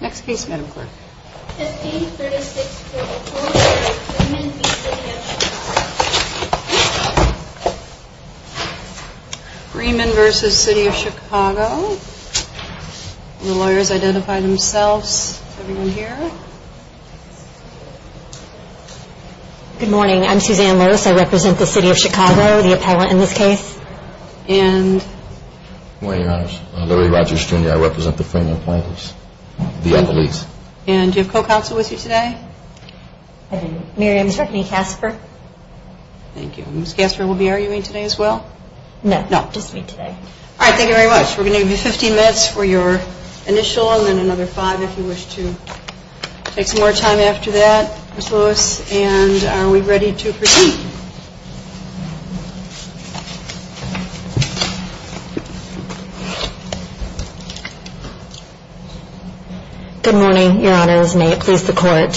Next case, Madam Clerk. Freeman v. City of Chicago. The lawyers identify themselves. Is everyone here? Good morning. I'm Suzanne Loos. I represent the City of Chicago, the appellant in this case. Good morning, Your Honor. I'm Larry Rogers, Jr. I represent the Freeman plaintiffs, the appellees. Do you have co-counsel with you today? I do. Mary, I'm certainly Casper. Thank you. Ms. Casper will be arguing today as well? No, just me today. All right, thank you very much. We're going to give you 15 minutes for your initial and then another five if you wish to take some more time after that, Ms. Loos. And are we ready to proceed? Good morning, Your Honors. May it please the Court.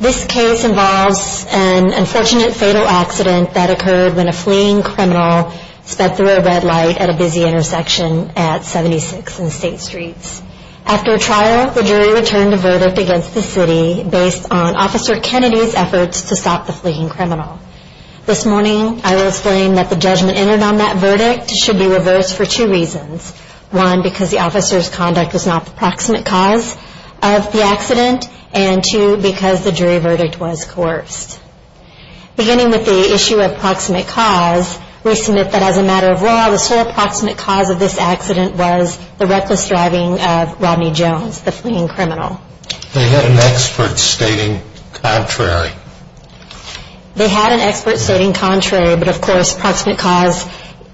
This case involves an unfortunate fatal accident that occurred when a fleeing criminal sped through a red light at a busy intersection at 76 and State Streets. After a trial, the jury returned a verdict against the City based on Officer Kennedy's efforts to stop the fleeing criminal. This morning, I will explain that the judgment entered on that verdict should be reversed for two reasons. One, because the officer's conduct was not the proximate cause of the accident, and two, because the jury verdict was coerced. Beginning with the issue of proximate cause, we submit that as a matter of law, the sole proximate cause of this accident was the reckless driving of Rodney Jones, the fleeing criminal. They had an expert stating contrary. They had an expert stating contrary, but of course, proximate cause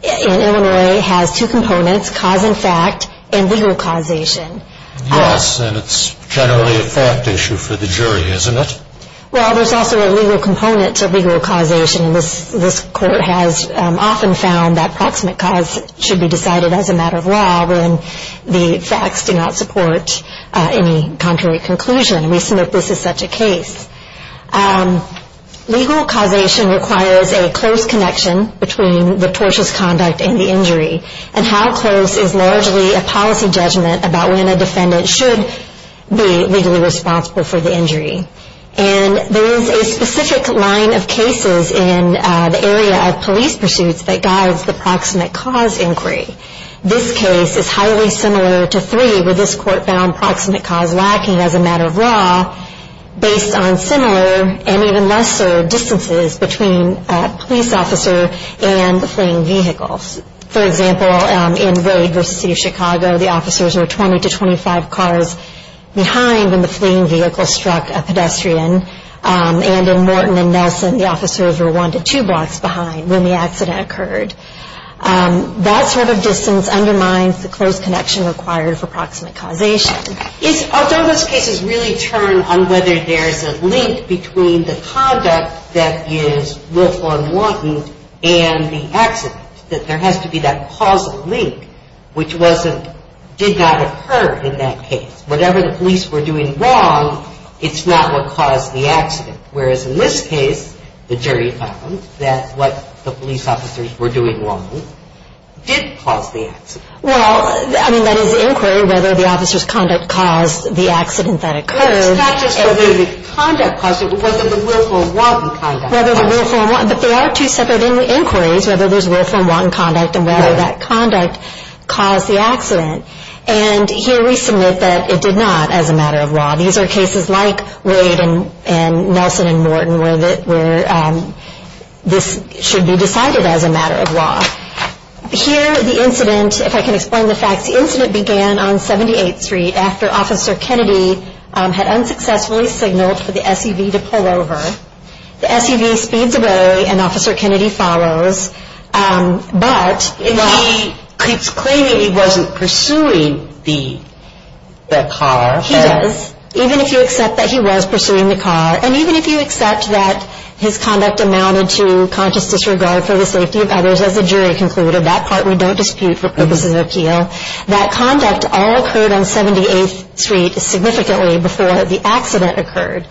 in Illinois has two components, cause in fact and legal causation. Yes, and it's generally a fact issue for the jury, isn't it? Well, there's also a legal component to legal causation. This Court has often found that proximate cause should be decided as a matter of law when the facts do not support any contrary conclusion. We submit this is such a case. Legal causation requires a close connection between the tortious conduct and the injury, and how close is largely a policy judgment about when a defendant should be legally responsible for the injury. And there is a specific line of cases in the area of police pursuits that guides the proximate cause inquiry. This case is highly similar to three, where this Court found proximate cause lacking as a matter of law, based on similar and even lesser distances between a police officer and the fleeing vehicle. For example, in Road v. City of Chicago, the officers were 20 to 25 cars behind when the fleeing vehicle struck a pedestrian. And in Morton v. Nelson, the officers were one to two blocks behind when the accident occurred. That sort of distance undermines the close connection required for proximate causation. Although those cases really turn on whether there's a link between the conduct that is willful and wanton and the accident, that there has to be that causal link, which did not occur in that case. Whatever the police were doing wrong, it's not what caused the accident. Whereas in this case, the jury found that what the police officers were doing wrong did cause the accident. Well, I mean, that is inquiry, whether the officers' conduct caused the accident that occurred. It's not just whether the conduct caused it, but whether the willful and wanton conduct caused it. Whether the willful and wanton, but there are two separate inquiries, whether there's willful and wanton conduct and whether that conduct caused the accident. And here we submit that it did not as a matter of law. These are cases like Wade and Nelson and Morton where this should be decided as a matter of law. Here, the incident, if I can explain the facts, the incident began on 78th Street after Officer Kennedy had unsuccessfully signaled for the SUV to pull over. The SUV speeds away and Officer Kennedy follows. And he keeps claiming he wasn't pursuing the car. He does, even if you accept that he was pursuing the car. And even if you accept that his conduct amounted to conscious disregard for the safety of others, as the jury concluded, that part we don't dispute for purposes of appeal, that conduct all occurred on 78th Street significantly before the accident occurred.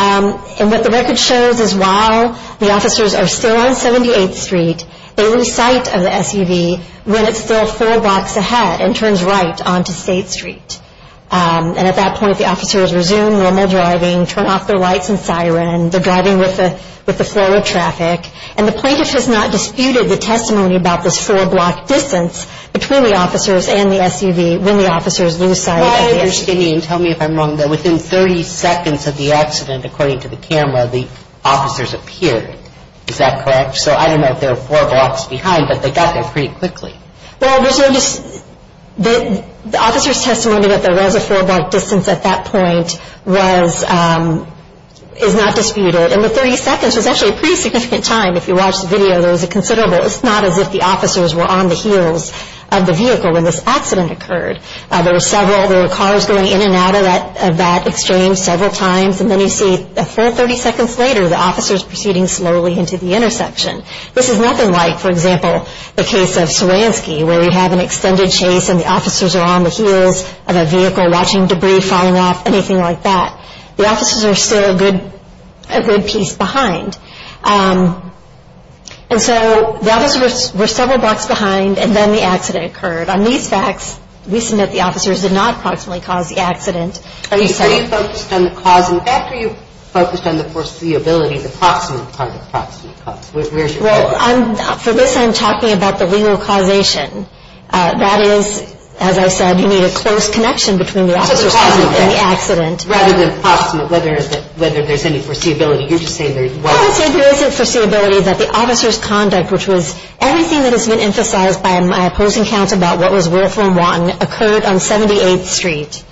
And what the record shows is while the officers are still on 78th Street, they lose sight of the SUV when it's still four blocks ahead and turns right onto State Street. And at that point, the officers resume normal driving, turn off their lights and siren. They're driving with the flow of traffic. And the plaintiff has not disputed the testimony about this four-block distance between the officers and the SUV when the officers lose sight of it. Well, I understand you, and tell me if I'm wrong, that within 30 seconds of the accident, according to the camera, the officers appeared. Is that correct? So I don't know if they were four blocks behind, but they got there pretty quickly. Well, there's no just—the officers' testimony that there was a four-block distance at that point was—is not disputed. And the 30 seconds was actually a pretty significant time. If you watch the video, there was a considerable— it's not as if the officers were on the heels of the vehicle when this accident occurred. There were several—there were cars going in and out of that exchange several times, and then you see a full 30 seconds later, the officers proceeding slowly into the intersection. This is nothing like, for example, the case of Swaranski, where you have an extended chase and the officers are on the heels of a vehicle, watching debris falling off, anything like that. The officers are still a good piece behind. And so the officers were several blocks behind, and then the accident occurred. On these facts, we submit the officers did not proximately cause the accident. Are you saying— Are you focused on the cause? In fact, are you focused on the foreseeability, the proximate cause? Well, I'm—for this, I'm talking about the legal causation. That is, as I said, you need a close connection between the officers and the accident. Rather than proximate, whether there's any foreseeability. You're just saying there's— Well, I said there is a foreseeability that the officers' conduct, which was everything that has been emphasized by my opposing counts about what was worth or wrong, occurred on 78th Street.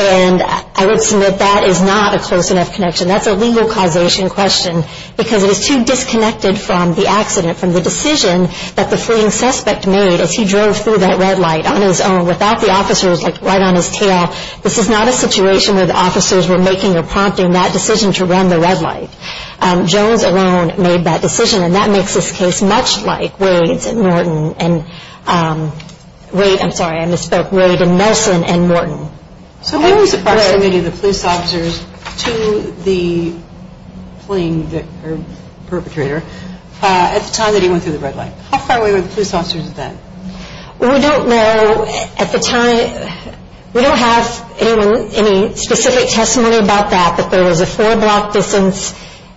And I would submit that is not a close enough connection. That's a legal causation question because it is too disconnected from the accident, from the decision that the fleeing suspect made as he drove through that red light on his own, without the officers, like, right on his tail. This is not a situation where the officers were making or prompting that decision to run the red light. Jones alone made that decision, and that makes this case much like Wade's and Norton, and—Wade—I'm sorry, I misspoke—Wade and Nelson and Norton. So Wade was approximating the police officers to the fleeing perpetrator at the time that he went through the red light. How far away were the police officers then? We don't know at the time. We don't have any specific testimony about that, but there was a four-block distance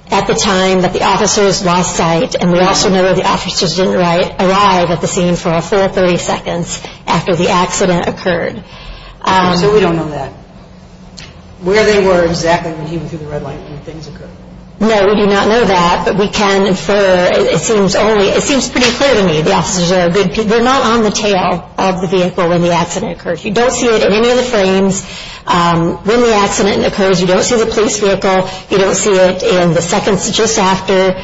at the time that the officers lost sight, and we also know that the officers didn't arrive at the scene for a full 30 seconds after the accident occurred. So we don't know that. Where they were exactly when he went through the red light when things occurred. No, we do not know that, but we can infer—it seems only—it seems pretty clear to me. The officers are—they're not on the tail of the vehicle when the accident occurred. You don't see it in any of the frames. When the accident occurs, you don't see the police vehicle. You don't see it in the seconds just after.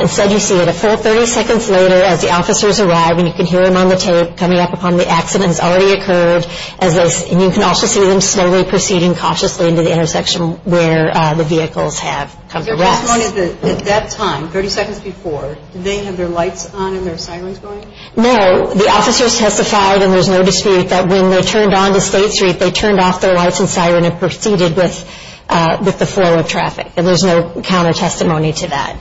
Instead, you see it a full 30 seconds later as the officers arrive, and you can hear them on the tape coming up upon the accident has already occurred, and you can also see them slowly proceeding cautiously into the intersection where the vehicles have come to rest. Your testimony is that at that time, 30 seconds before, did they have their lights on and their sirens going? No. The officers testified, and there's no dispute, that when they turned onto State Street, they turned off their lights and siren and proceeded with the flow of traffic, and there's no counter-testimony to that.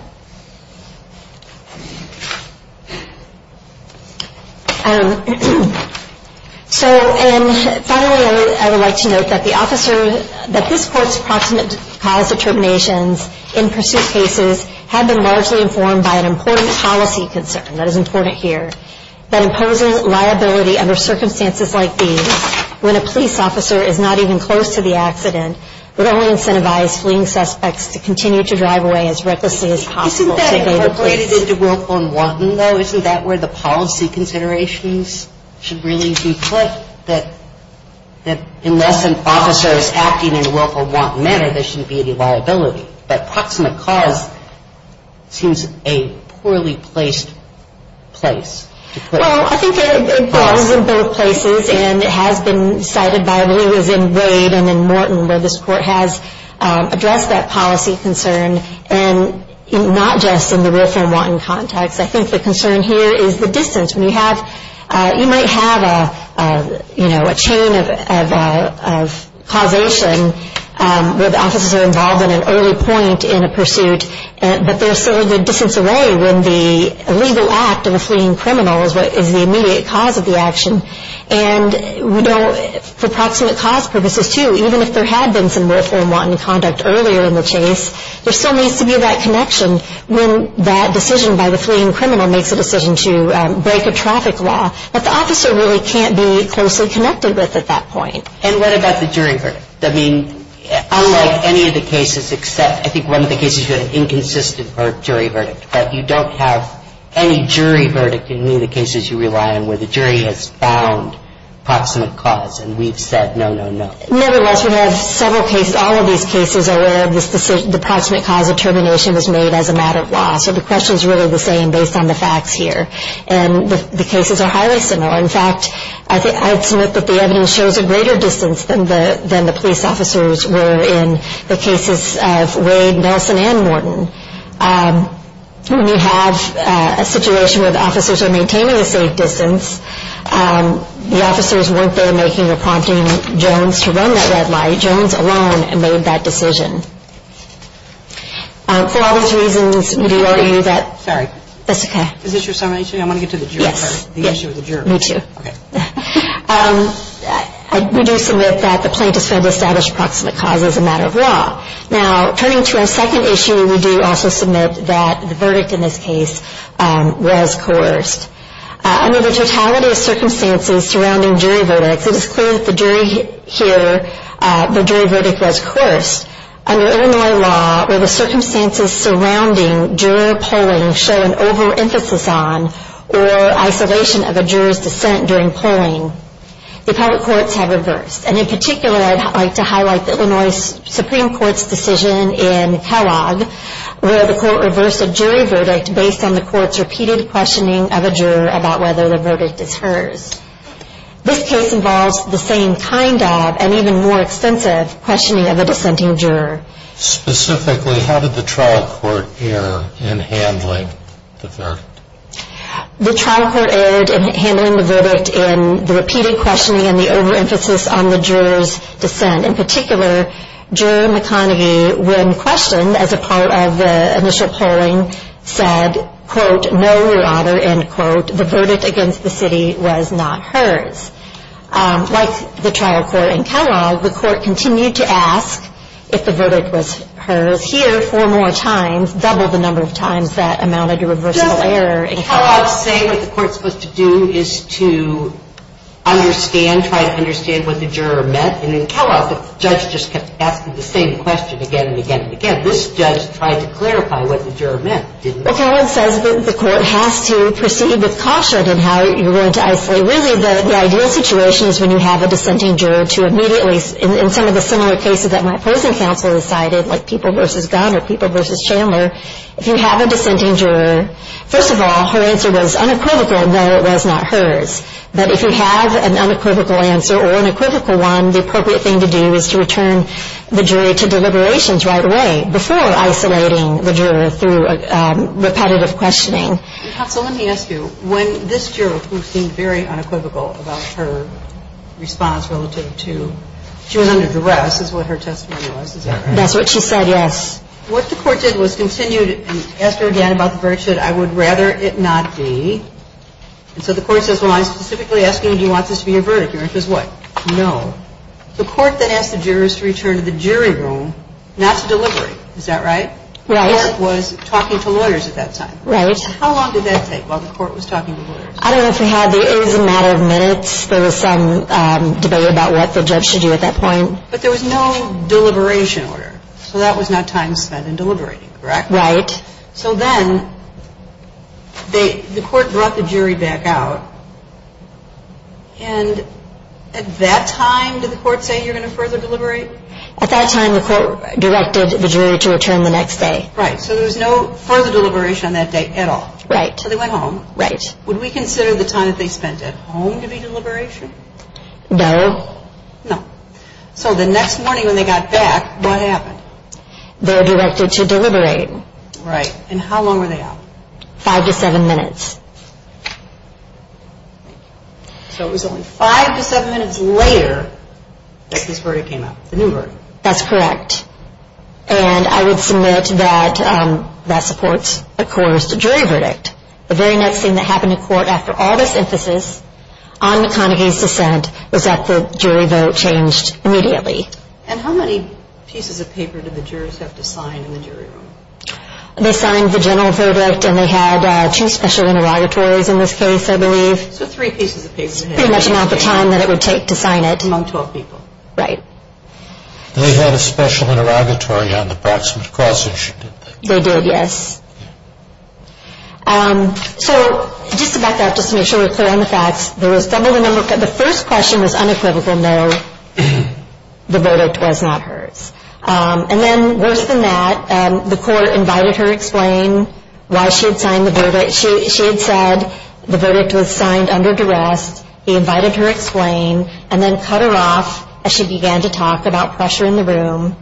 So, and finally, I would like to note that the officer— that this Court's approximate cause determinations in pursuit cases have been largely informed by an important policy concern—that is important here— that imposing liability under circumstances like these, when a police officer is not even close to the accident, would only incentivize fleeing suspects to continue to drive away as recklessly as possible. Isn't that incorporated into Willful and Wanton, though? Isn't that where the policy considerations should really be put? That unless an officer is acting in a Willful and Wanton manner, there shouldn't be any liability. That approximate cause seems a poorly placed place to put it. Well, I think it applies in both places, and it has been cited by Lou as in Wade and in Morton, where this Court has addressed that policy concern, and not just in the Willful and Wanton context. I think the concern here is the distance. When you have—you might have, you know, a chain of causation where the officers are involved at an early point in a pursuit, but there's still a good distance away when the legal act of a fleeing criminal is the immediate cause of the action. And, you know, for proximate cause purposes, too, even if there had been some Willful and Wanton conduct earlier in the chase, there still needs to be that connection when that decision by the fleeing criminal makes a decision to break a traffic law. But the officer really can't be closely connected with at that point. And what about the jury verdict? I mean, unlike any of the cases except, I think, one of the cases, you had an inconsistent jury verdict, right? You don't have any jury verdict in any of the cases you rely on where the jury has found proximate cause, and we've said no, no, no. Nevertheless, we have several cases, all of these cases, where the proximate cause of termination is made as a matter of law. So the question is really the same based on the facts here. And the cases are highly similar. In fact, I'd submit that the evidence shows a greater distance than the police officers were in the cases of Wade, Nelson, and Morton. When you have a situation where the officers are maintaining a safe distance, the officers weren't there making or prompting Jones to run that red light. Jones alone made that decision. For all those reasons, we do argue that. Sorry. That's okay. Is this your summation? I want to get to the jury. Yes. The issue of the jury. Me too. Okay. We do submit that the plaintiffs failed to establish proximate cause as a matter of law. Now, turning to our second issue, we do also submit that the verdict in this case was coerced. Under the totality of circumstances surrounding jury verdicts, it is clear that the jury verdict was coerced. Under Illinois law, where the circumstances surrounding juror polling show an over-emphasis on or isolation of a juror's dissent during polling, the public courts have reversed. And in particular, I'd like to highlight the Illinois Supreme Court's decision in Kellogg where the court reversed a jury verdict based on the court's repeated questioning of a juror about whether the verdict is hers. This case involves the same kind of and even more extensive questioning of a dissenting juror. Specifically, how did the trial court err in handling the verdict? The trial court erred in handling the verdict in the repeated questioning and the over-emphasis on the juror's dissent. And in particular, jury McConaghy, when questioned as a part of the initial polling, said, quote, no, your honor, end quote, the verdict against the city was not hers. Like the trial court in Kellogg, the court continued to ask if the verdict was hers. Here, four more times, double the number of times that amounted to reversible error. Does Kellogg say what the court is supposed to do is to understand, try to understand what the juror meant? And in Kellogg, the judge just kept asking the same question again and again and again. This judge tried to clarify what the juror meant, didn't he? Well, Kellogg says that the court has to proceed with caution in how you're going to isolate. Really, the ideal situation is when you have a dissenting juror to immediately in some of the similar cases that my opposing counsel decided, like People v. Gunn or People v. Chandler, if you have a dissenting juror, first of all, her answer was unequivocal in that it was not hers. But if you have an unequivocal answer or an equivocal one, the appropriate thing to do is to return the jury to deliberations right away before isolating the juror through repetitive questioning. Counsel, let me ask you. When this juror, who seemed very unequivocal about her response relative to, she was under duress is what her testimony was, is that right? That's what she said, yes. What the court did was continue to ask her again about the verdict, should I would rather it not be. And so the court says, well, I'm specifically asking, do you want this to be your verdict? Your answer is what? No. The court then asked the jurors to return to the jury room not to deliberate. Is that right? Right. The court was talking to lawyers at that time. Right. How long did that take while the court was talking to lawyers? I don't know if we had the, it was a matter of minutes. There was some debate about what the judge should do at that point. But there was no deliberation order. So that was not time spent in deliberating, correct? Right. So then the court brought the jury back out, and at that time did the court say you're going to further deliberate? At that time the court directed the jury to return the next day. Right. So there was no further deliberation on that day at all. Right. So they went home. Right. Would we consider the time that they spent at home to be deliberation? No. No. So the next morning when they got back, what happened? They were directed to deliberate. Right. And how long were they out? Five to seven minutes. Thank you. So it was only five to seven minutes later that this verdict came out, the new verdict. That's correct. And I would submit that that supports, of course, the jury verdict. The very next thing that happened in court after all this emphasis on McConaghy's dissent was that the jury vote changed immediately. And how many pieces of paper did the jurors have to sign in the jury room? They signed the general verdict, and they had two special interrogatories in this case, I believe. So three pieces of paper. Pretty much the amount of time that it would take to sign it. Among 12 people. Right. They had a special interrogatory on the proximate cause issue, didn't they? They did, yes. So just to back up, just to make sure we're clear on the facts, the first question was unequivocal, no, the verdict was not hers. And then worse than that, the court invited her to explain why she had signed the verdict. She had said the verdict was signed under duress. He invited her to explain and then cut her off as she began to talk about pressure in the room.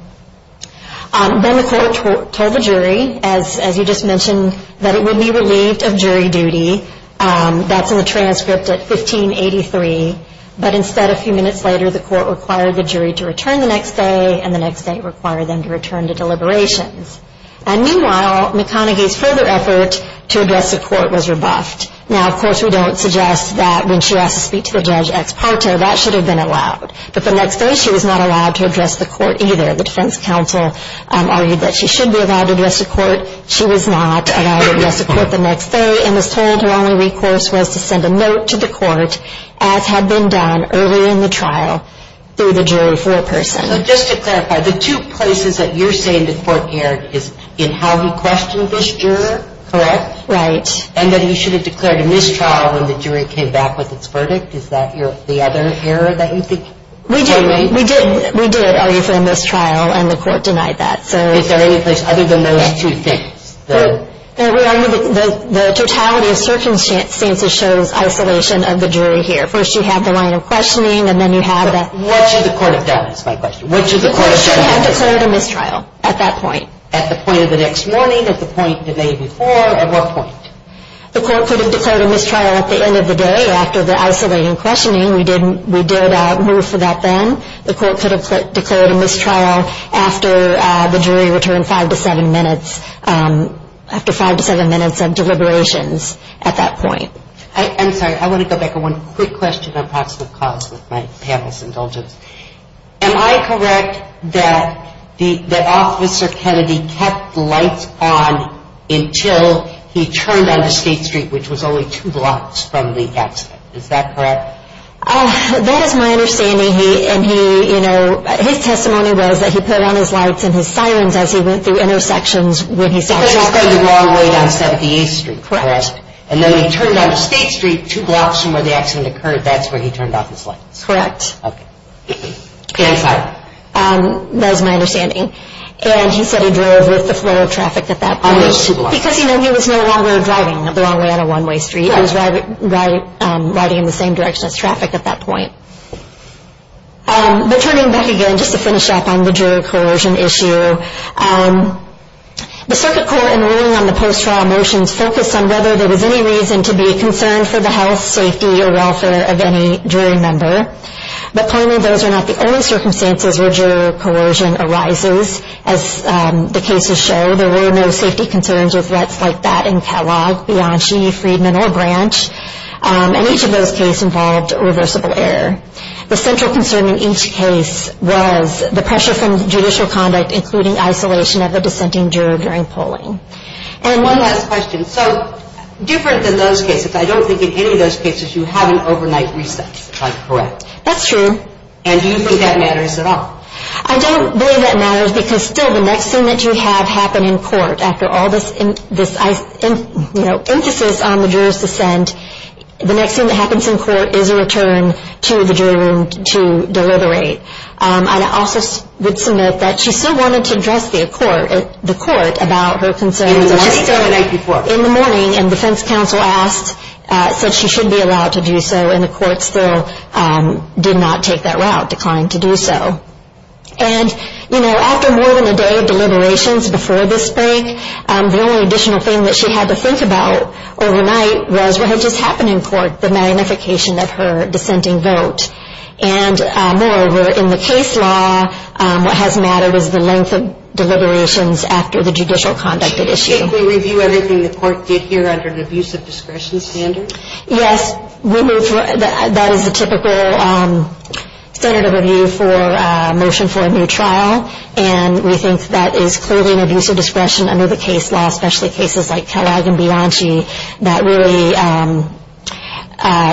Then the court told the jury, as you just mentioned, that it would be relieved of jury duty. That's in the transcript at 1583. But instead, a few minutes later, the court required the jury to return the next day, and the next day it required them to return to deliberations. And meanwhile, McConaghy's further effort to address the court was rebuffed. Now, of course, we don't suggest that when she asked to speak to the judge ex parte, that should have been allowed. But the next day she was not allowed to address the court either. She was not allowed to address the court the next day and was told her only recourse was to send a note to the court, as had been done earlier in the trial through the jury for a person. So just to clarify, the two places that you're saying the court erred is in how he questioned this juror, correct? Right. And that he should have declared a mistrial when the jury came back with its verdict? Is that the other error that you think was made? We did argue for a mistrial, and the court denied that. Is there any place other than those two things? The totality of circumstances shows isolation of the jury here. First you have the line of questioning, and then you have that. What should the court have done is my question. The court should have declared a mistrial at that point. At the point of the next morning, at the point today before, at what point? The court could have declared a mistrial at the end of the day after the isolating questioning. We did move for that then. The court could have declared a mistrial after the jury returned five to seven minutes, after five to seven minutes of deliberations at that point. I'm sorry. I want to go back to one quick question on possible cause with my panel's indulgence. Am I correct that Officer Kennedy kept lights on until he turned onto State Street, which was only two blocks from the accident? Is that correct? That is my understanding. His testimony was that he put on his lights and his sirens as he went through intersections. Because he was driving the wrong way down 78th Street, correct? Correct. And then he turned onto State Street two blocks from where the accident occurred. That's where he turned off his lights? Correct. Okay. And sirens? That is my understanding. And he said he drove with the flow of traffic at that point. On those two blocks. Because he was no longer driving the wrong way on a one-way street. He was riding in the same direction as traffic at that point. But turning back again, just to finish up on the juror coercion issue, the Circuit Court, in ruling on the post-trial motions, focused on whether there was any reason to be concerned for the health, safety, or welfare of any jury member. But clearly, those are not the only circumstances where juror coercion arises, as the cases show. There were no safety concerns or threats like that in Kellogg, Bianchi, Friedman, or Branch. And each of those cases involved reversible error. The central concern in each case was the pressure from judicial conduct, including isolation of a dissenting juror during polling. And one last question. So different than those cases, I don't think in any of those cases, you have an overnight reset. Correct. That's true. And do you think that matters at all? I don't believe that matters because, still, the next thing that you have happen in court, after all this emphasis on the juror's dissent, the next thing that happens in court is a return to the jury room to deliberate. I also would submit that she still wanted to address the court about her concerns. She did that the night before. In the morning, and defense counsel asked, said she should be allowed to do so, and the court still did not take that route, declined to do so. And, you know, after more than a day of deliberations before this break, the only additional thing that she had to think about overnight was what had just happened in court, the magnification of her dissenting vote. And, moreover, in the case law, what has mattered is the length of deliberations after the judicial conduct at issue. Should we review everything the court did here under the abuse of discretion standard? Yes, that is the typical standard of review for a motion for a new trial, and we think that is clearly an abuse of discretion under the case law, especially cases like Kellogg and Bianchi, that really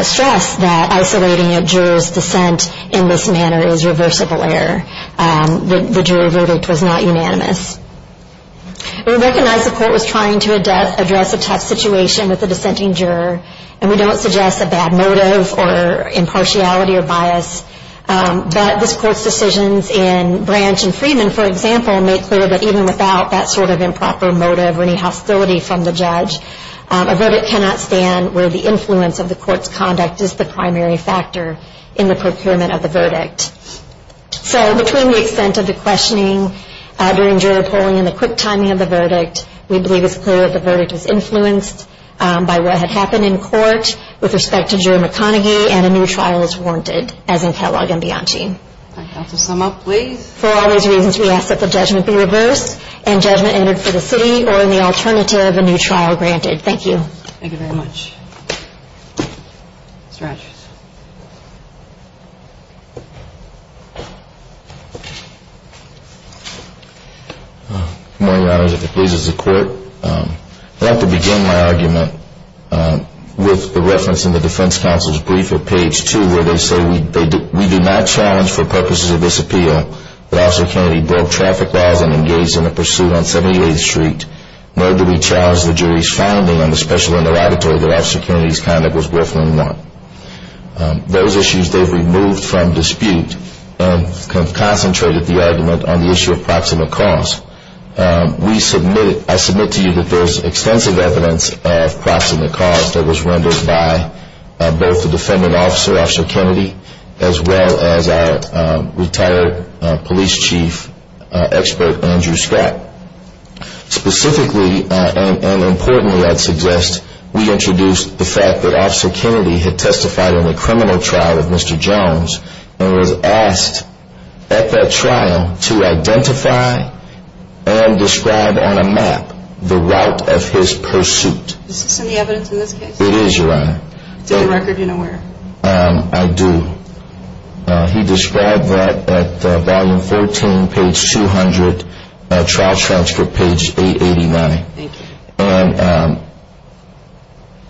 stress that isolating a juror's dissent in this manner is reversible error. The jury verdict was not unanimous. We recognize the court was trying to address a tough situation with the dissenting juror, and we don't suggest a bad motive or impartiality or bias. But this court's decisions in Branch and Freeman, for example, made clear that even without that sort of improper motive or any hostility from the judge, a verdict cannot stand where the influence of the court's conduct is the primary factor in the procurement of the verdict. So between the extent of the questioning during juror polling and the quick timing of the verdict, we believe it's clear that the verdict was influenced by what had happened in court with respect to juror McConaughey, and a new trial is warranted, as in Kellogg and Bianchi. All right. Counsel, sum up, please. For all these reasons, we ask that the judgment be reversed and judgment entered for the city or, in the alternative, a new trial granted. Thank you. Thank you very much. Mr. Rogers. Good morning, Your Honors. If it pleases the court, I'd like to begin my argument with the reference in the defense counsel's brief at page 2 where they say we do not challenge for purposes of this appeal that Officer Kennedy broke traffic laws and engaged in a pursuit on 78th Street, nor do we challenge the jury's finding on the special interrogatory that Officer Kennedy's conduct was worth knowing more. Those issues they've removed from dispute and have concentrated the argument on the issue of proximate cause. I submit to you that there is extensive evidence of proximate cause that was rendered by both the defendant officer, Officer Kennedy, as well as our retired police chief expert, Andrew Scott. Specifically and importantly, I'd suggest we introduce the fact that Officer Kennedy had testified in the criminal trial of Mr. Jones and was asked at that trial to identify and describe on a map the route of his pursuit. Is this in the evidence in this case? It is, Your Honor. It's in the record. Do you know where? I do. He described that at volume 14, page 200, trial transcript page 889. Thank you. And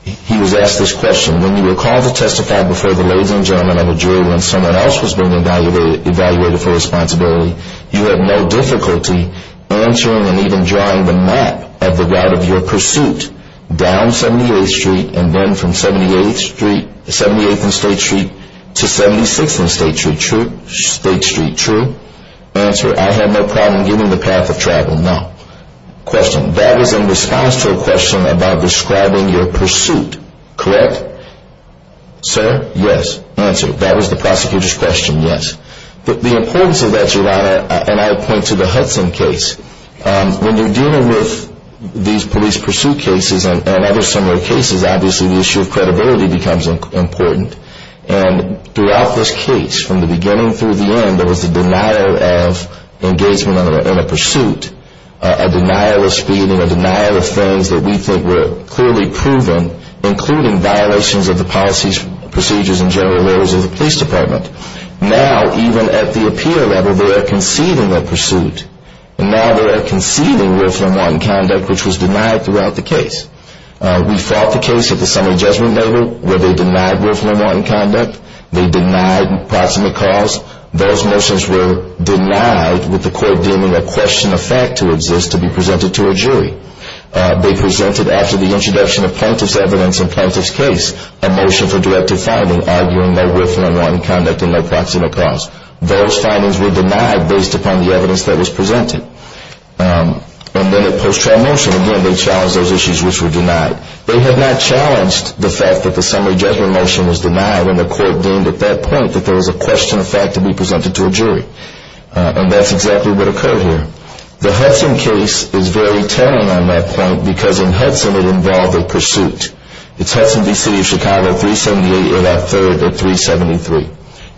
he was asked this question. When you were called to testify before the ladies and gentlemen of the jury when someone else was being evaluated for responsibility, you had no difficulty answering and even drawing the map of the route of your pursuit down 78th Street to 76th and State Street. True? State Street. True? Answer, I had no problem giving the path of travel. No. Question, that was in response to a question about describing your pursuit. Correct? Sir? Yes. Answer, that was the prosecutor's question. Yes. The importance of that, Your Honor, and I would point to the Hudson case, when you're dealing with these police pursuit cases and other similar cases, obviously the issue of credibility becomes important. And throughout this case, from the beginning through the end, there was a denial of engagement in a pursuit, a denial of speeding, a denial of things that we think were clearly proven, including violations of the policies, procedures, and general rules of the police department. Now, even at the appeal level, they are conceding their pursuit, and now they are conceding more than one conduct which was denied throughout the case. We fought the case at the summary judgment level where they denied willful and wanton conduct. They denied proximate cause. Those motions were denied with the court deeming a question of fact to exist to be presented to a jury. They presented, after the introduction of plaintiff's evidence in plaintiff's case, a motion for directive finding, arguing no willful and wanton conduct and no proximate cause. Those findings were denied based upon the evidence that was presented. And then at post-trial motion, again, they challenged those issues which were denied. They had not challenged the fact that the summary judgment motion was denied when the court deemed at that point that there was a question of fact to be presented to a jury. And that's exactly what occurred here. The Hudson case is very telling on that point because in Hudson it involved a pursuit. It's Hudson v. City of Chicago at 378 and at 3rd at 373.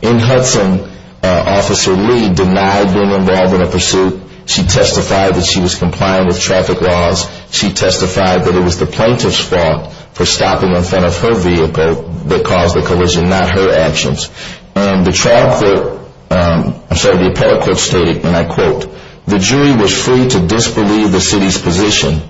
In Hudson, Officer Lee denied being involved in a pursuit. She testified that she was compliant with traffic laws. She testified that it was the plaintiff's fault for stopping in front of her vehicle that caused the collision, not her actions. And the trial court, I'm sorry, the appellate court stated, and I quote, the jury was free to disbelieve the city's position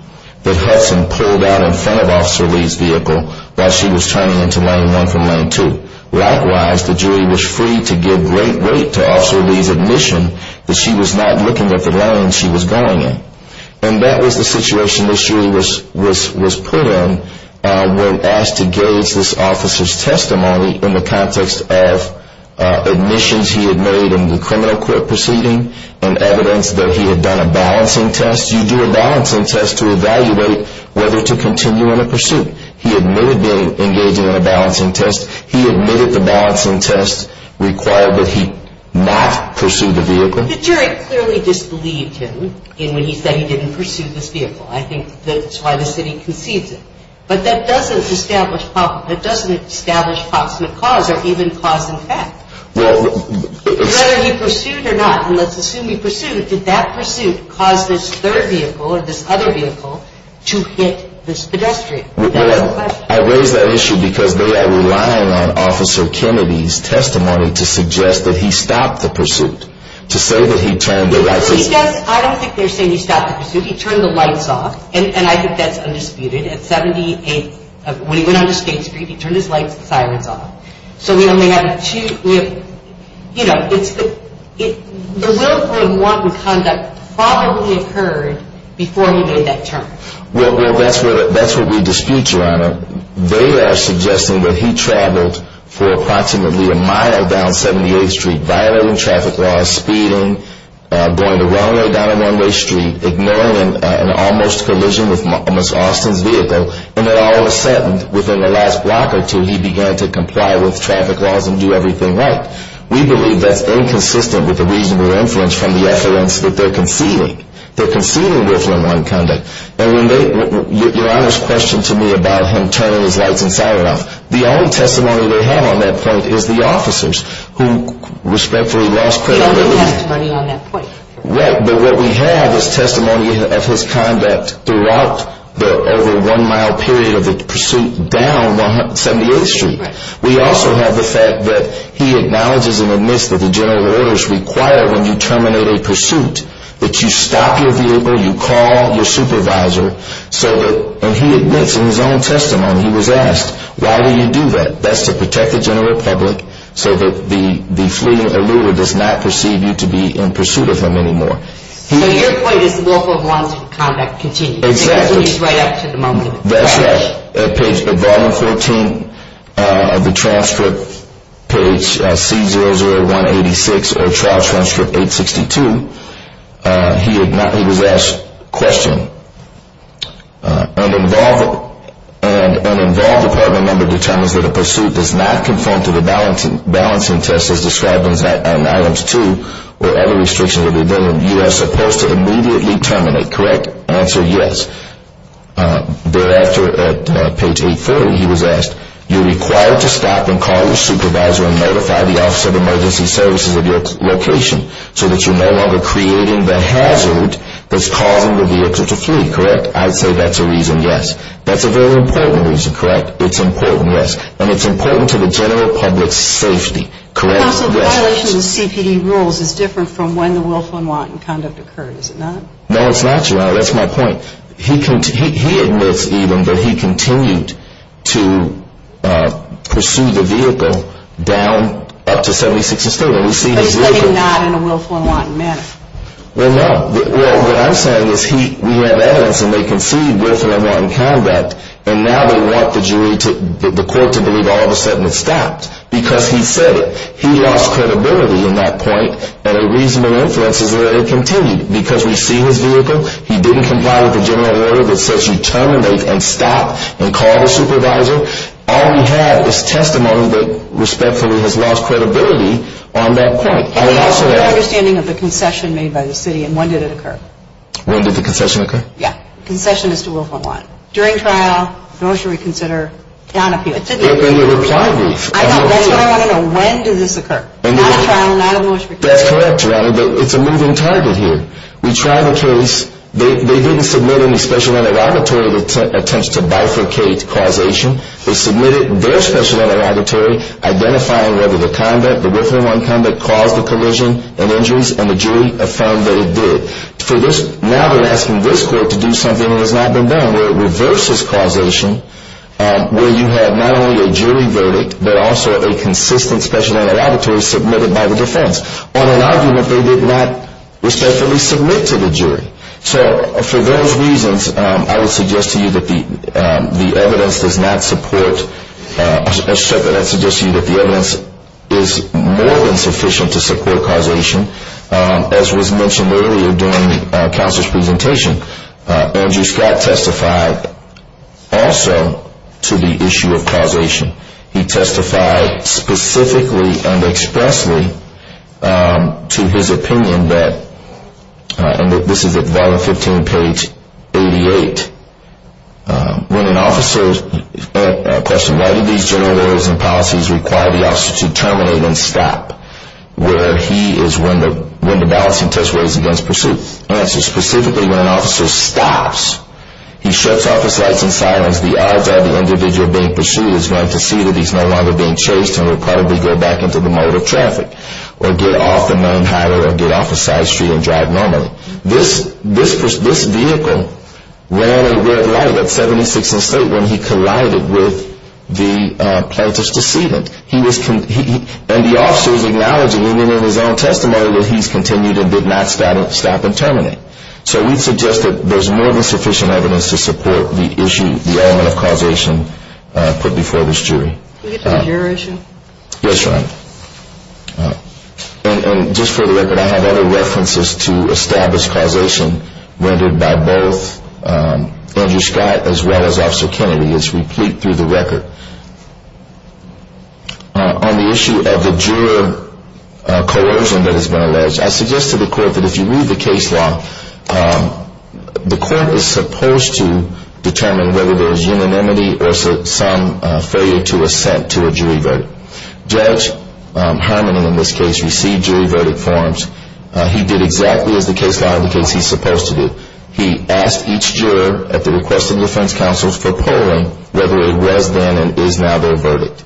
that Hudson pulled out in front of Officer Lee's vehicle while she was turning into Lane 1 from Lane 2. Likewise, the jury was free to give great weight to Officer Lee's admission that she was not looking at the lane she was going in. And that was the situation the jury was put in when asked to gauge this officer's testimony in the context of admissions he had made in the criminal court proceeding and evidence that he had done a balancing test. You do a balancing test to evaluate whether to continue in a pursuit. He admitted being engaged in a balancing test. He admitted the balancing test required that he not pursue the vehicle. The jury clearly disbelieved him in when he said he didn't pursue this vehicle. I think that's why the city concedes it. But that doesn't establish approximate cause or even cause in fact. Whether he pursued or not, and let's assume he pursued, did that pursuit cause this third vehicle or this other vehicle to hit this pedestrian? I raise that issue because they are relying on Officer Kennedy's testimony to suggest that he stopped the pursuit. To say that he turned the lights off. I don't think they're saying he stopped the pursuit. He turned the lights off, and I think that's undisputed. At 78, when he went onto State Street, he turned his lights and sirens off. So we only have two, you know, the willful and wanton conduct probably occurred before he made that turn. Well, that's what we dispute, Your Honor. They are suggesting that he traveled for approximately a mile down 78th Street, violating traffic laws, speeding, going the wrong way down a one-way street, ignoring an almost collision with Ms. Austin's vehicle, and then all of a sudden, within the last block or two, he began to comply with traffic laws and do everything right. We believe that's inconsistent with the reasonable inference from the evidence that they're conceding. They're conceding willful and wanton conduct. Your Honor's question to me about him turning his lights and sirens off, the only testimony they have on that point is the officers who respectfully lost credibility. They don't have testimony on that point. Right, but what we have is testimony of his conduct throughout the over one-mile period of the pursuit down 78th Street. We also have the fact that he acknowledges and admits that the general order is required when you terminate a pursuit that you stop your vehicle, you call your supervisor, and he admits in his own testimony, he was asked, why do you do that? That's to protect the general public so that the fleeing eluder does not perceive you to be in pursuit of him anymore. So your point is willful and wanton conduct continues. It continues right up to the moment. He was asked, question, an involved department member determines that a pursuit does not conform to the balancing test as described in items 2 or any restrictions within them. You are supposed to immediately terminate, correct? Answer, yes. Thereafter, at page 840, he was asked, you're required to stop and call your supervisor and notify the Office of Emergency Services of your location so that you're no longer creating the hazard that's causing the vehicle to flee, correct? I'd say that's a reason, yes. That's a very important reason, correct? It's important, yes. And it's important to the general public's safety, correct? Counsel, the violation of the CPD rules is different from when the willful and wanton conduct occurred, is it not? That's my point. He admits even that he continued to pursue the vehicle down up to 76th Estate. But he's saying not in a willful and wanton manner. Well, no. What I'm saying is we have evidence and they concede willful and wanton conduct and now they want the jury, the court to believe all of a sudden it stopped because he said it. He lost credibility in that point and a reasonable influence is that it continued. Because we see his vehicle, he didn't comply with the general order that says you terminate and stop and call the supervisor. All we have is testimony that respectfully has lost credibility on that point. I'm asking for your understanding of the concession made by the city and when did it occur? When did the concession occur? Yeah. Concession is to willful and wanton. During trial, motion to reconsider, down appeal. In the reply brief. That's what I want to know. When did this occur? Not at trial, not at motion to reconsider. That's correct, Your Honor. It's a moving target here. We tried the case. They didn't submit any special interrogatory attempts to bifurcate causation. They submitted their special interrogatory identifying whether the conduct, the willful and wanton conduct caused the collision and injuries and the jury affirmed that it did. Now they're asking this court to do something that has not been done where it reverses causation where you have not only a jury verdict but also a consistent special interrogatory submitted by the defense. On an argument, they did not respectfully submit to the jury. So for those reasons, I would suggest to you that the evidence does not support, I suggest to you that the evidence is more than sufficient to support causation. As was mentioned earlier during the counselor's presentation, Andrew Scott testified also to the issue of causation. He testified specifically and expressly to his opinion that, and this is at volume 15, page 88, when an officer, a question, why did these general rules and policies require the officer to terminate and stop? Where he is when the balancing test was against pursuit. Answer, specifically when an officer stops, he shuts off his lights and silence, the odds are the individual being pursued is going to see that he's no longer being chased and will probably go back into the mode of traffic or get off the main highway or get off the side street and drive normally. This vehicle ran a red light at 76th Estate when he collided with the plaintiff's decedent. And the officer is acknowledging in his own testimony that he's continued and did not stop and terminate. So we'd suggest that there's more than sufficient evidence to support the issue, the element of causation put before this jury. Is this your issue? Yes, Your Honor. And just for the record, I have other references to establish causation rendered by both Andrew Scott as well as Officer Kennedy. It's replete through the record. On the issue of the juror coercion that has been alleged, I suggest to the court that if you read the case law, the court is supposed to determine whether there's unanimity or some failure to assent to a jury vote. Judge Harmon, in this case, received jury verdict forms. He did exactly as the case law indicates he's supposed to do. He asked each juror at the request of the defense counsels for polling whether it was then and is now their verdict.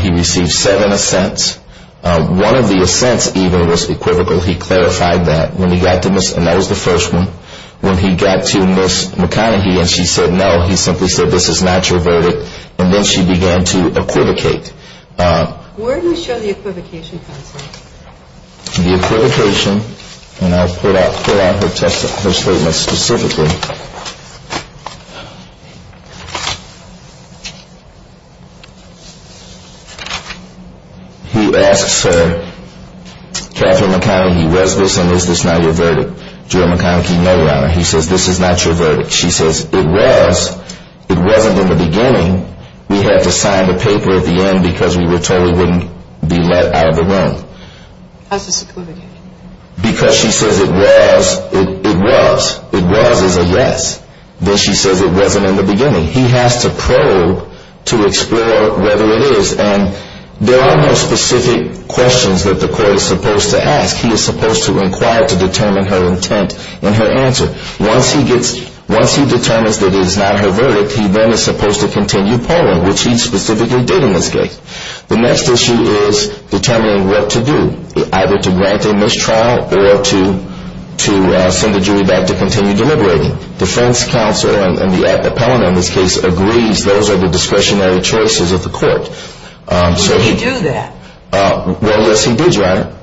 He received seven assents. One of the assents even was equivocal. He clarified that. And that was the first one. When he got to Ms. McConaughey and she said no, he simply said, this is not your verdict. And then she began to equivocate. Where do we show the equivocation, counsel? The equivocation, and I'll pull out her statement specifically. He asks her, Katherine McConaughey, was this and is this not your verdict? Juror McConaughey, no, Your Honor. He says, this is not your verdict. She says, it was. It wasn't in the beginning. We had to sign the paper at the end because we were totally wouldn't be let out of the room. How does this equivocate? Because she says it was. It was. It was is a yes. Then she says it wasn't in the beginning. He has to probe to explore whether it is. And there are no specific questions that the court is supposed to ask. He is supposed to inquire to determine her intent and her answer. Once he determines that it is not her verdict, he then is supposed to continue polling, which he specifically did in this case. The next issue is determining what to do, either to grant a mistrial or to send the jury back to continue deliberating. Defense counsel and the appellant in this case agrees those are the discretionary choices of the court. Did he do that? Well, yes, he did, Your Honor.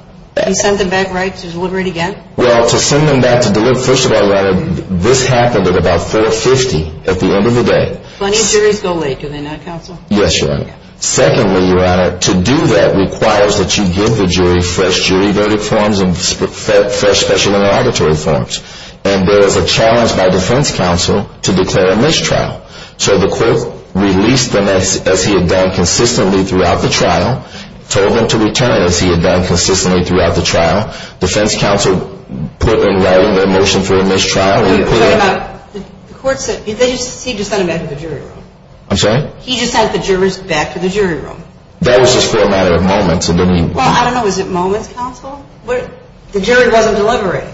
He sent them back, right, to deliberate again? Well, to send them back to deliberate, first of all, Your Honor, this happened at about 4.50 at the end of the day. Plenty of juries go late, do they not, counsel? Yes, Your Honor. Secondly, Your Honor, to do that requires that you give the jury fresh jury verdict forms and fresh special interrogatory forms. And there is a challenge by defense counsel to declare a mistrial. So the court released them as he had done consistently throughout the trial, told them to return as he had done consistently throughout the trial. Defense counsel put them right in their motion for a mistrial. The court said he just sent them back to the jury room. I'm sorry? He just sent the jurors back to the jury room. That was just for a matter of moments. Well, I don't know, was it moments, counsel? The jury wasn't deliberating.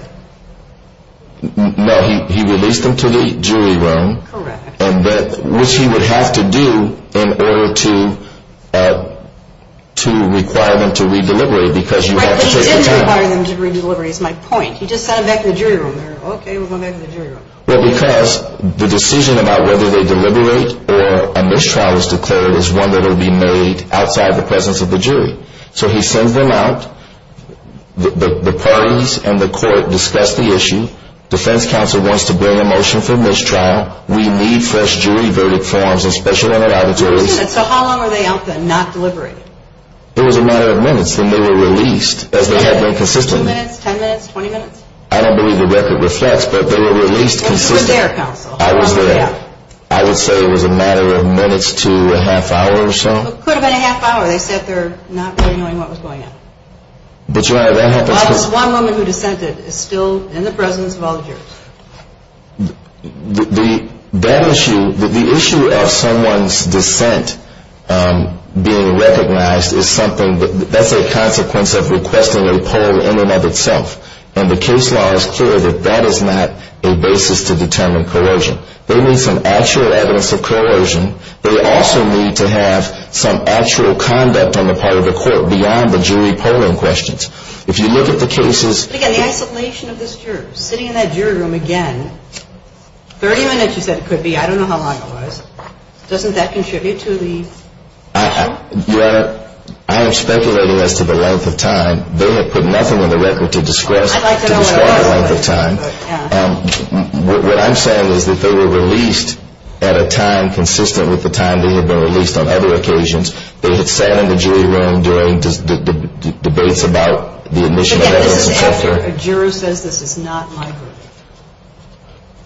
No, he released them to the jury room. Correct. Which he would have to do in order to require them to re-deliberate because you have to take the time. Require them to re-deliberate is my point. He just sent them back to the jury room. Okay, we're going back to the jury room. Well, because the decision about whether they deliberate or a mistrial is declared is one that will be made outside the presence of the jury. So he sends them out. The parties and the court discuss the issue. Defense counsel wants to bring a motion for mistrial. We need fresh jury verdict forms and special interrogatories. So how long were they out there not deliberating? It was a matter of minutes and they were released as they had been consistently. Two minutes, ten minutes, 20 minutes? I don't believe the record reflects, but they were released consistently. They were there, counsel. I was there. I would say it was a matter of minutes to a half hour or so. It could have been a half hour. They said they're not really knowing what was going on. But, Your Honor, that happens because Well, it's one woman who dissented is still in the presence of all the jurors. The issue of someone's dissent being recognized is something that's a consequence of requesting a poll in and of itself. And the case law is clear that that is not a basis to determine coercion. They need some actual evidence of coercion. They also need to have some actual conduct on the part of the court beyond the jury polling questions. If you look at the cases But again, the isolation of this juror, sitting in that jury room again, 30 minutes you said it could be. I don't know how long it was. Doesn't that contribute to the issue? Your Honor, I am speculating as to the length of time. They had put nothing in the record to describe the length of time. What I'm saying is that they were released at a time consistent with the time they had been released on other occasions. They had sat in the jury room during debates about the admission of evidence of coercion. This is after a juror says this is not my group.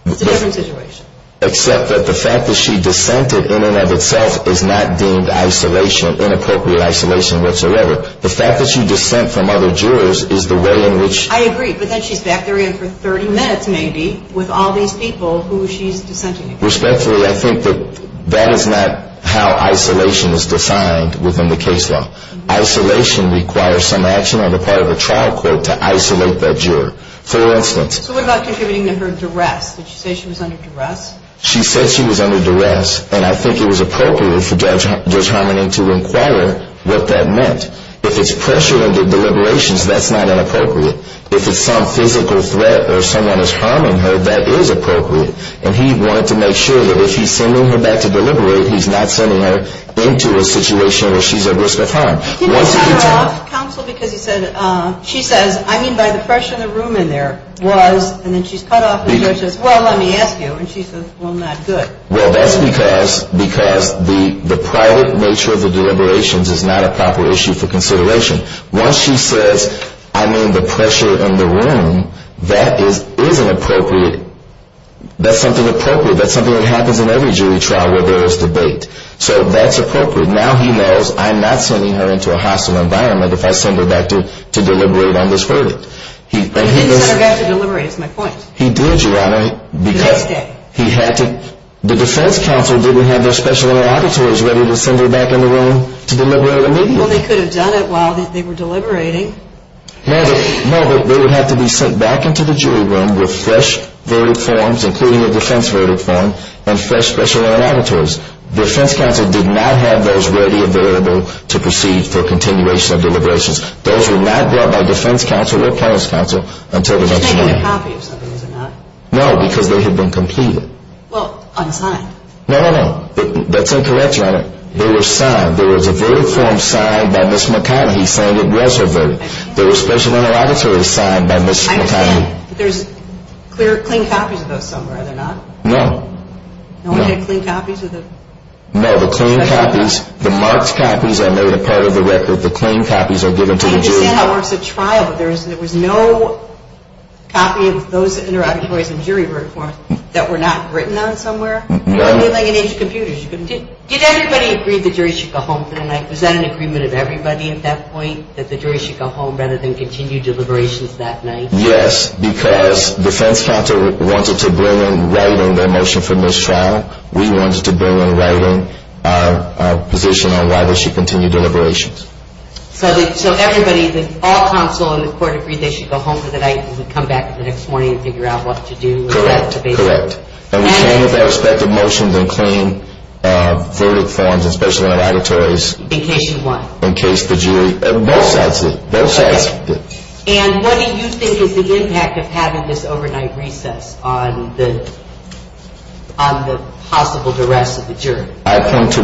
It's a different situation. Except that the fact that she dissented in and of itself is not deemed isolation, inappropriate isolation whatsoever. The fact that she dissent from other jurors is the way in which I agree, but then she's back there again for 30 minutes maybe with all these people who she's dissenting against. Respectfully, I think that that is not how isolation is defined within the case law. Isolation requires some action on the part of a trial court to isolate that juror. For instance. So what about contributing to her duress? Did she say she was under duress? She said she was under duress, and I think it was appropriate for Judge Harmoning to inquire what that meant. If it's pressure under deliberations, that's not inappropriate. If it's some physical threat or someone is harming her, that is appropriate. And he wanted to make sure that if he's sending her back to deliberate, he's not sending her into a situation where she's at risk of harm. He didn't cut her off, counsel, because he said, she says, I mean, by the pressure in the room in there was, and then she's cut off and the judge says, well, let me ask you. And she says, well, not good. Well, that's because the private nature of the deliberations is not a proper issue for consideration. Once she says, I mean, the pressure in the room, that is an appropriate, that's something appropriate. That's something that happens in every jury trial where there is debate. So that's appropriate. Now he knows I'm not sending her into a hostile environment if I send her back to deliberate on this verdict. But he didn't send her back to deliberate, is my point. He did, Your Honor. Because he had to, the defense counsel didn't have their special interlocutors ready to send her back in the room to deliberate immediately. Well, they could have done it while they were deliberating. No, but they would have to be sent back into the jury room with fresh verdict forms, including a defense verdict form and fresh special interlocutors. The defense counsel did not have those ready available to proceed for continuation of deliberations. Those were not brought by defense counsel or plaintiff's counsel until the next hearing. Just making a copy of something, is it not? No, because they had been completed. Well, unsigned. No, no, no. That's incorrect, Your Honor. They were signed. There was a verdict form signed by Ms. McConaughey saying it was her verdict. There were special interlocutors signed by Ms. McConaughey. I understand, but there's clear, clean copies of those somewhere, are there not? No. No one had clean copies of the? No, the clean copies, the marked copies are made a part of the record. The clean copies are given to the jury. I understand how it works at trial, but there was no copy of those interlocutors and jury verdict forms that were not written on somewhere? No. Did everybody agree the jury should go home for the night? Was that an agreement of everybody at that point, that the jury should go home rather than continue deliberations that night? Yes, because defense counsel wanted to bring in writing their motion for mistrial. We wanted to bring in writing our position on why they should continue deliberations. So everybody, all counsel in the court agreed they should go home for the night and come back the next morning and figure out what to do? Correct, correct. And we came with our respective motions and clean verdict forms and special interlocutories. In case you won? In case the jury, both sides did, both sides did. And what do you think is the impact of having this overnight recess on the possible duress of the jury? I point to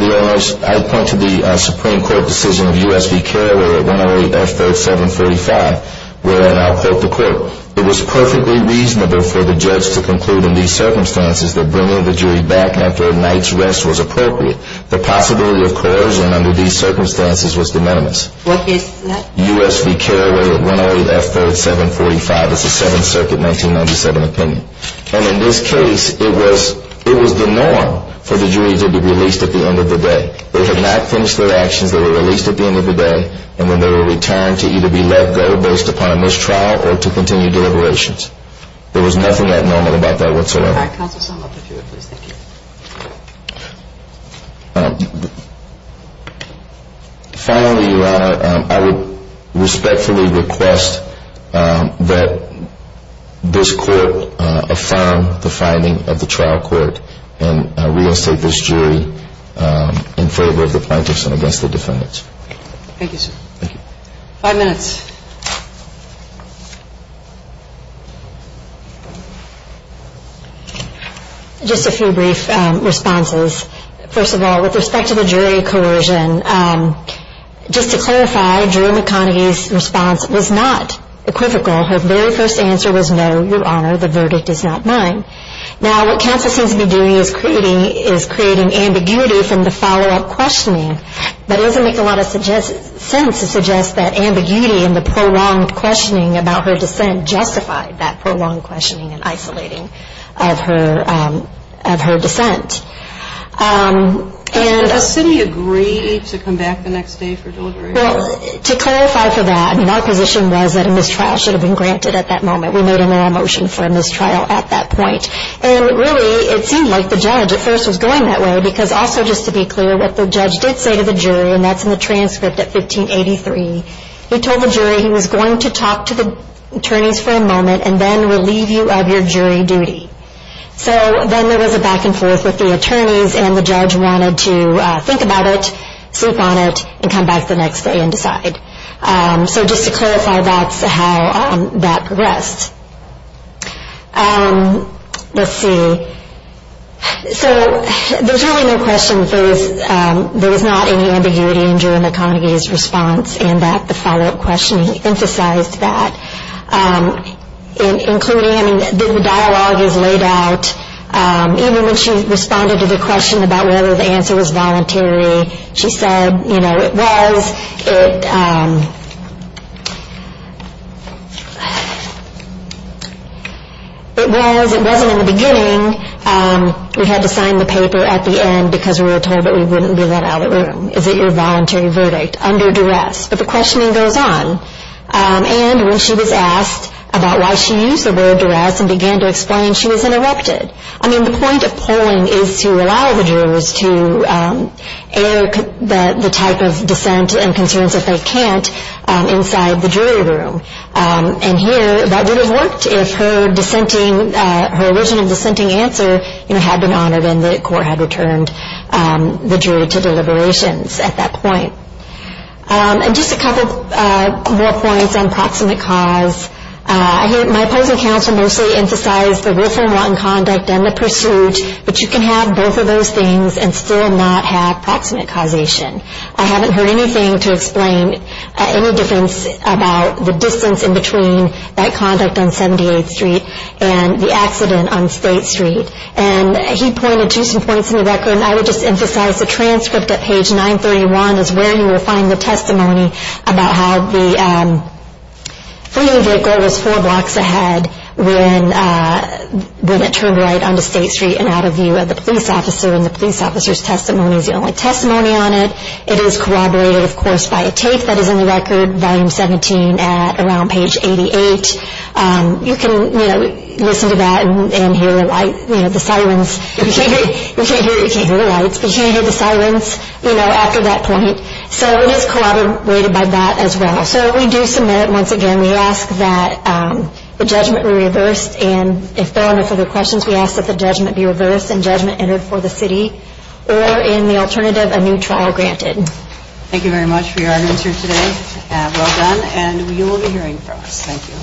the Supreme Court decision of U.S. v. Carroll at 108 F. 3745, where I now quote the court, it was perfectly reasonable for the judge to conclude in these circumstances that bringing the jury back after a night's rest was appropriate. The possibility of coercion under these circumstances was de minimis. What case is that? U.S. v. Carroll at 108 F. 3745. It's a Seventh Circuit 1997 opinion. And in this case, it was the norm for the jury to be released at the end of the day. They had not finished their actions. They were released at the end of the day. And then they were returned to either be let go based upon mistrial or to continue deliberations. There was nothing abnormal about that whatsoever. All right, counsel, sum up the jury, please. Thank you. Finally, Your Honor, I would respectfully request that this court affirm the finding of the trial court and reinstate this jury in favor of the plaintiffs and against the defendants. Thank you, sir. Thank you. Five minutes. Just a few brief responses. First of all, with respect to the jury coercion, just to clarify, Jerome McConaghy's response was not equivocal. Her very first answer was, No, Your Honor, the verdict is not mine. Now, what counsel seems to be doing is creating ambiguity from the follow-up questioning. That doesn't make a lot of sense to suggest that ambiguity and the prolonged questioning about her dissent justified that prolonged questioning and isolating of her dissent. Did the city agree to come back the next day for deliberation? Well, to clarify for that, I mean, our position was that a mistrial should have been granted at that moment. We made a moral motion for a mistrial at that point. And really, it seemed like the judge at first was going that way, because also just to be clear, what the judge did say to the jury, and that's in the transcript at 1583, he told the jury he was going to talk to the attorneys for a moment and then relieve you of your jury duty. So then there was a back and forth with the attorneys, and the judge wanted to think about it, sleep on it, and come back the next day and decide. So just to clarify, that's how that progressed. Let's see. So there's really no questions. There was not any ambiguity during the congee's response in that the follow-up question emphasized that, including, I mean, the dialogue is laid out. Even when she responded to the question about whether the answer was voluntary, she said, you know, it was. It was. It wasn't in the beginning. We had to sign the paper at the end because we were told that we wouldn't leave that out of the room. Is it your voluntary verdict under duress? But the questioning goes on. And when she was asked about why she used the word duress and began to explain, she was interrupted. I mean, the point of polling is to allow the jurors to air the type of dissent and concerns that they can't inside the jury room. And here that would have worked if her dissenting, her original dissenting answer, you know, had been honored and the court had returned the jury to deliberations at that point. And just a couple more points on proximate cause. My opposing counsel mostly emphasized the Wilson-Rutten conduct and the pursuit, but you can have both of those things and still not have proximate causation. I haven't heard anything to explain any difference about the distance in between that conduct on 78th Street and the accident on State Street. And he pointed to some points in the record, and I would just emphasize the transcript at page 931 is where you will find the testimony about how the fleeing vehicle was four blocks ahead when it turned right onto State Street and out of view of the police officer. And the police officer's testimony is the only testimony on it. It is corroborated, of course, by a tape that is in the record, volume 17, at around page 88. You can, you know, listen to that and hear the light, you know, the sirens. You can't hear the lights, but you can hear the sirens, you know, after that point. So it is corroborated by that as well. So we do submit it once again. We ask that the judgment be reversed. And if there are no further questions, we ask that the judgment be reversed and judgment entered for the city or, in the alternative, a new trial granted. Thank you very much for your arguments here today. Well done, and you will be hearing from us. Thank you.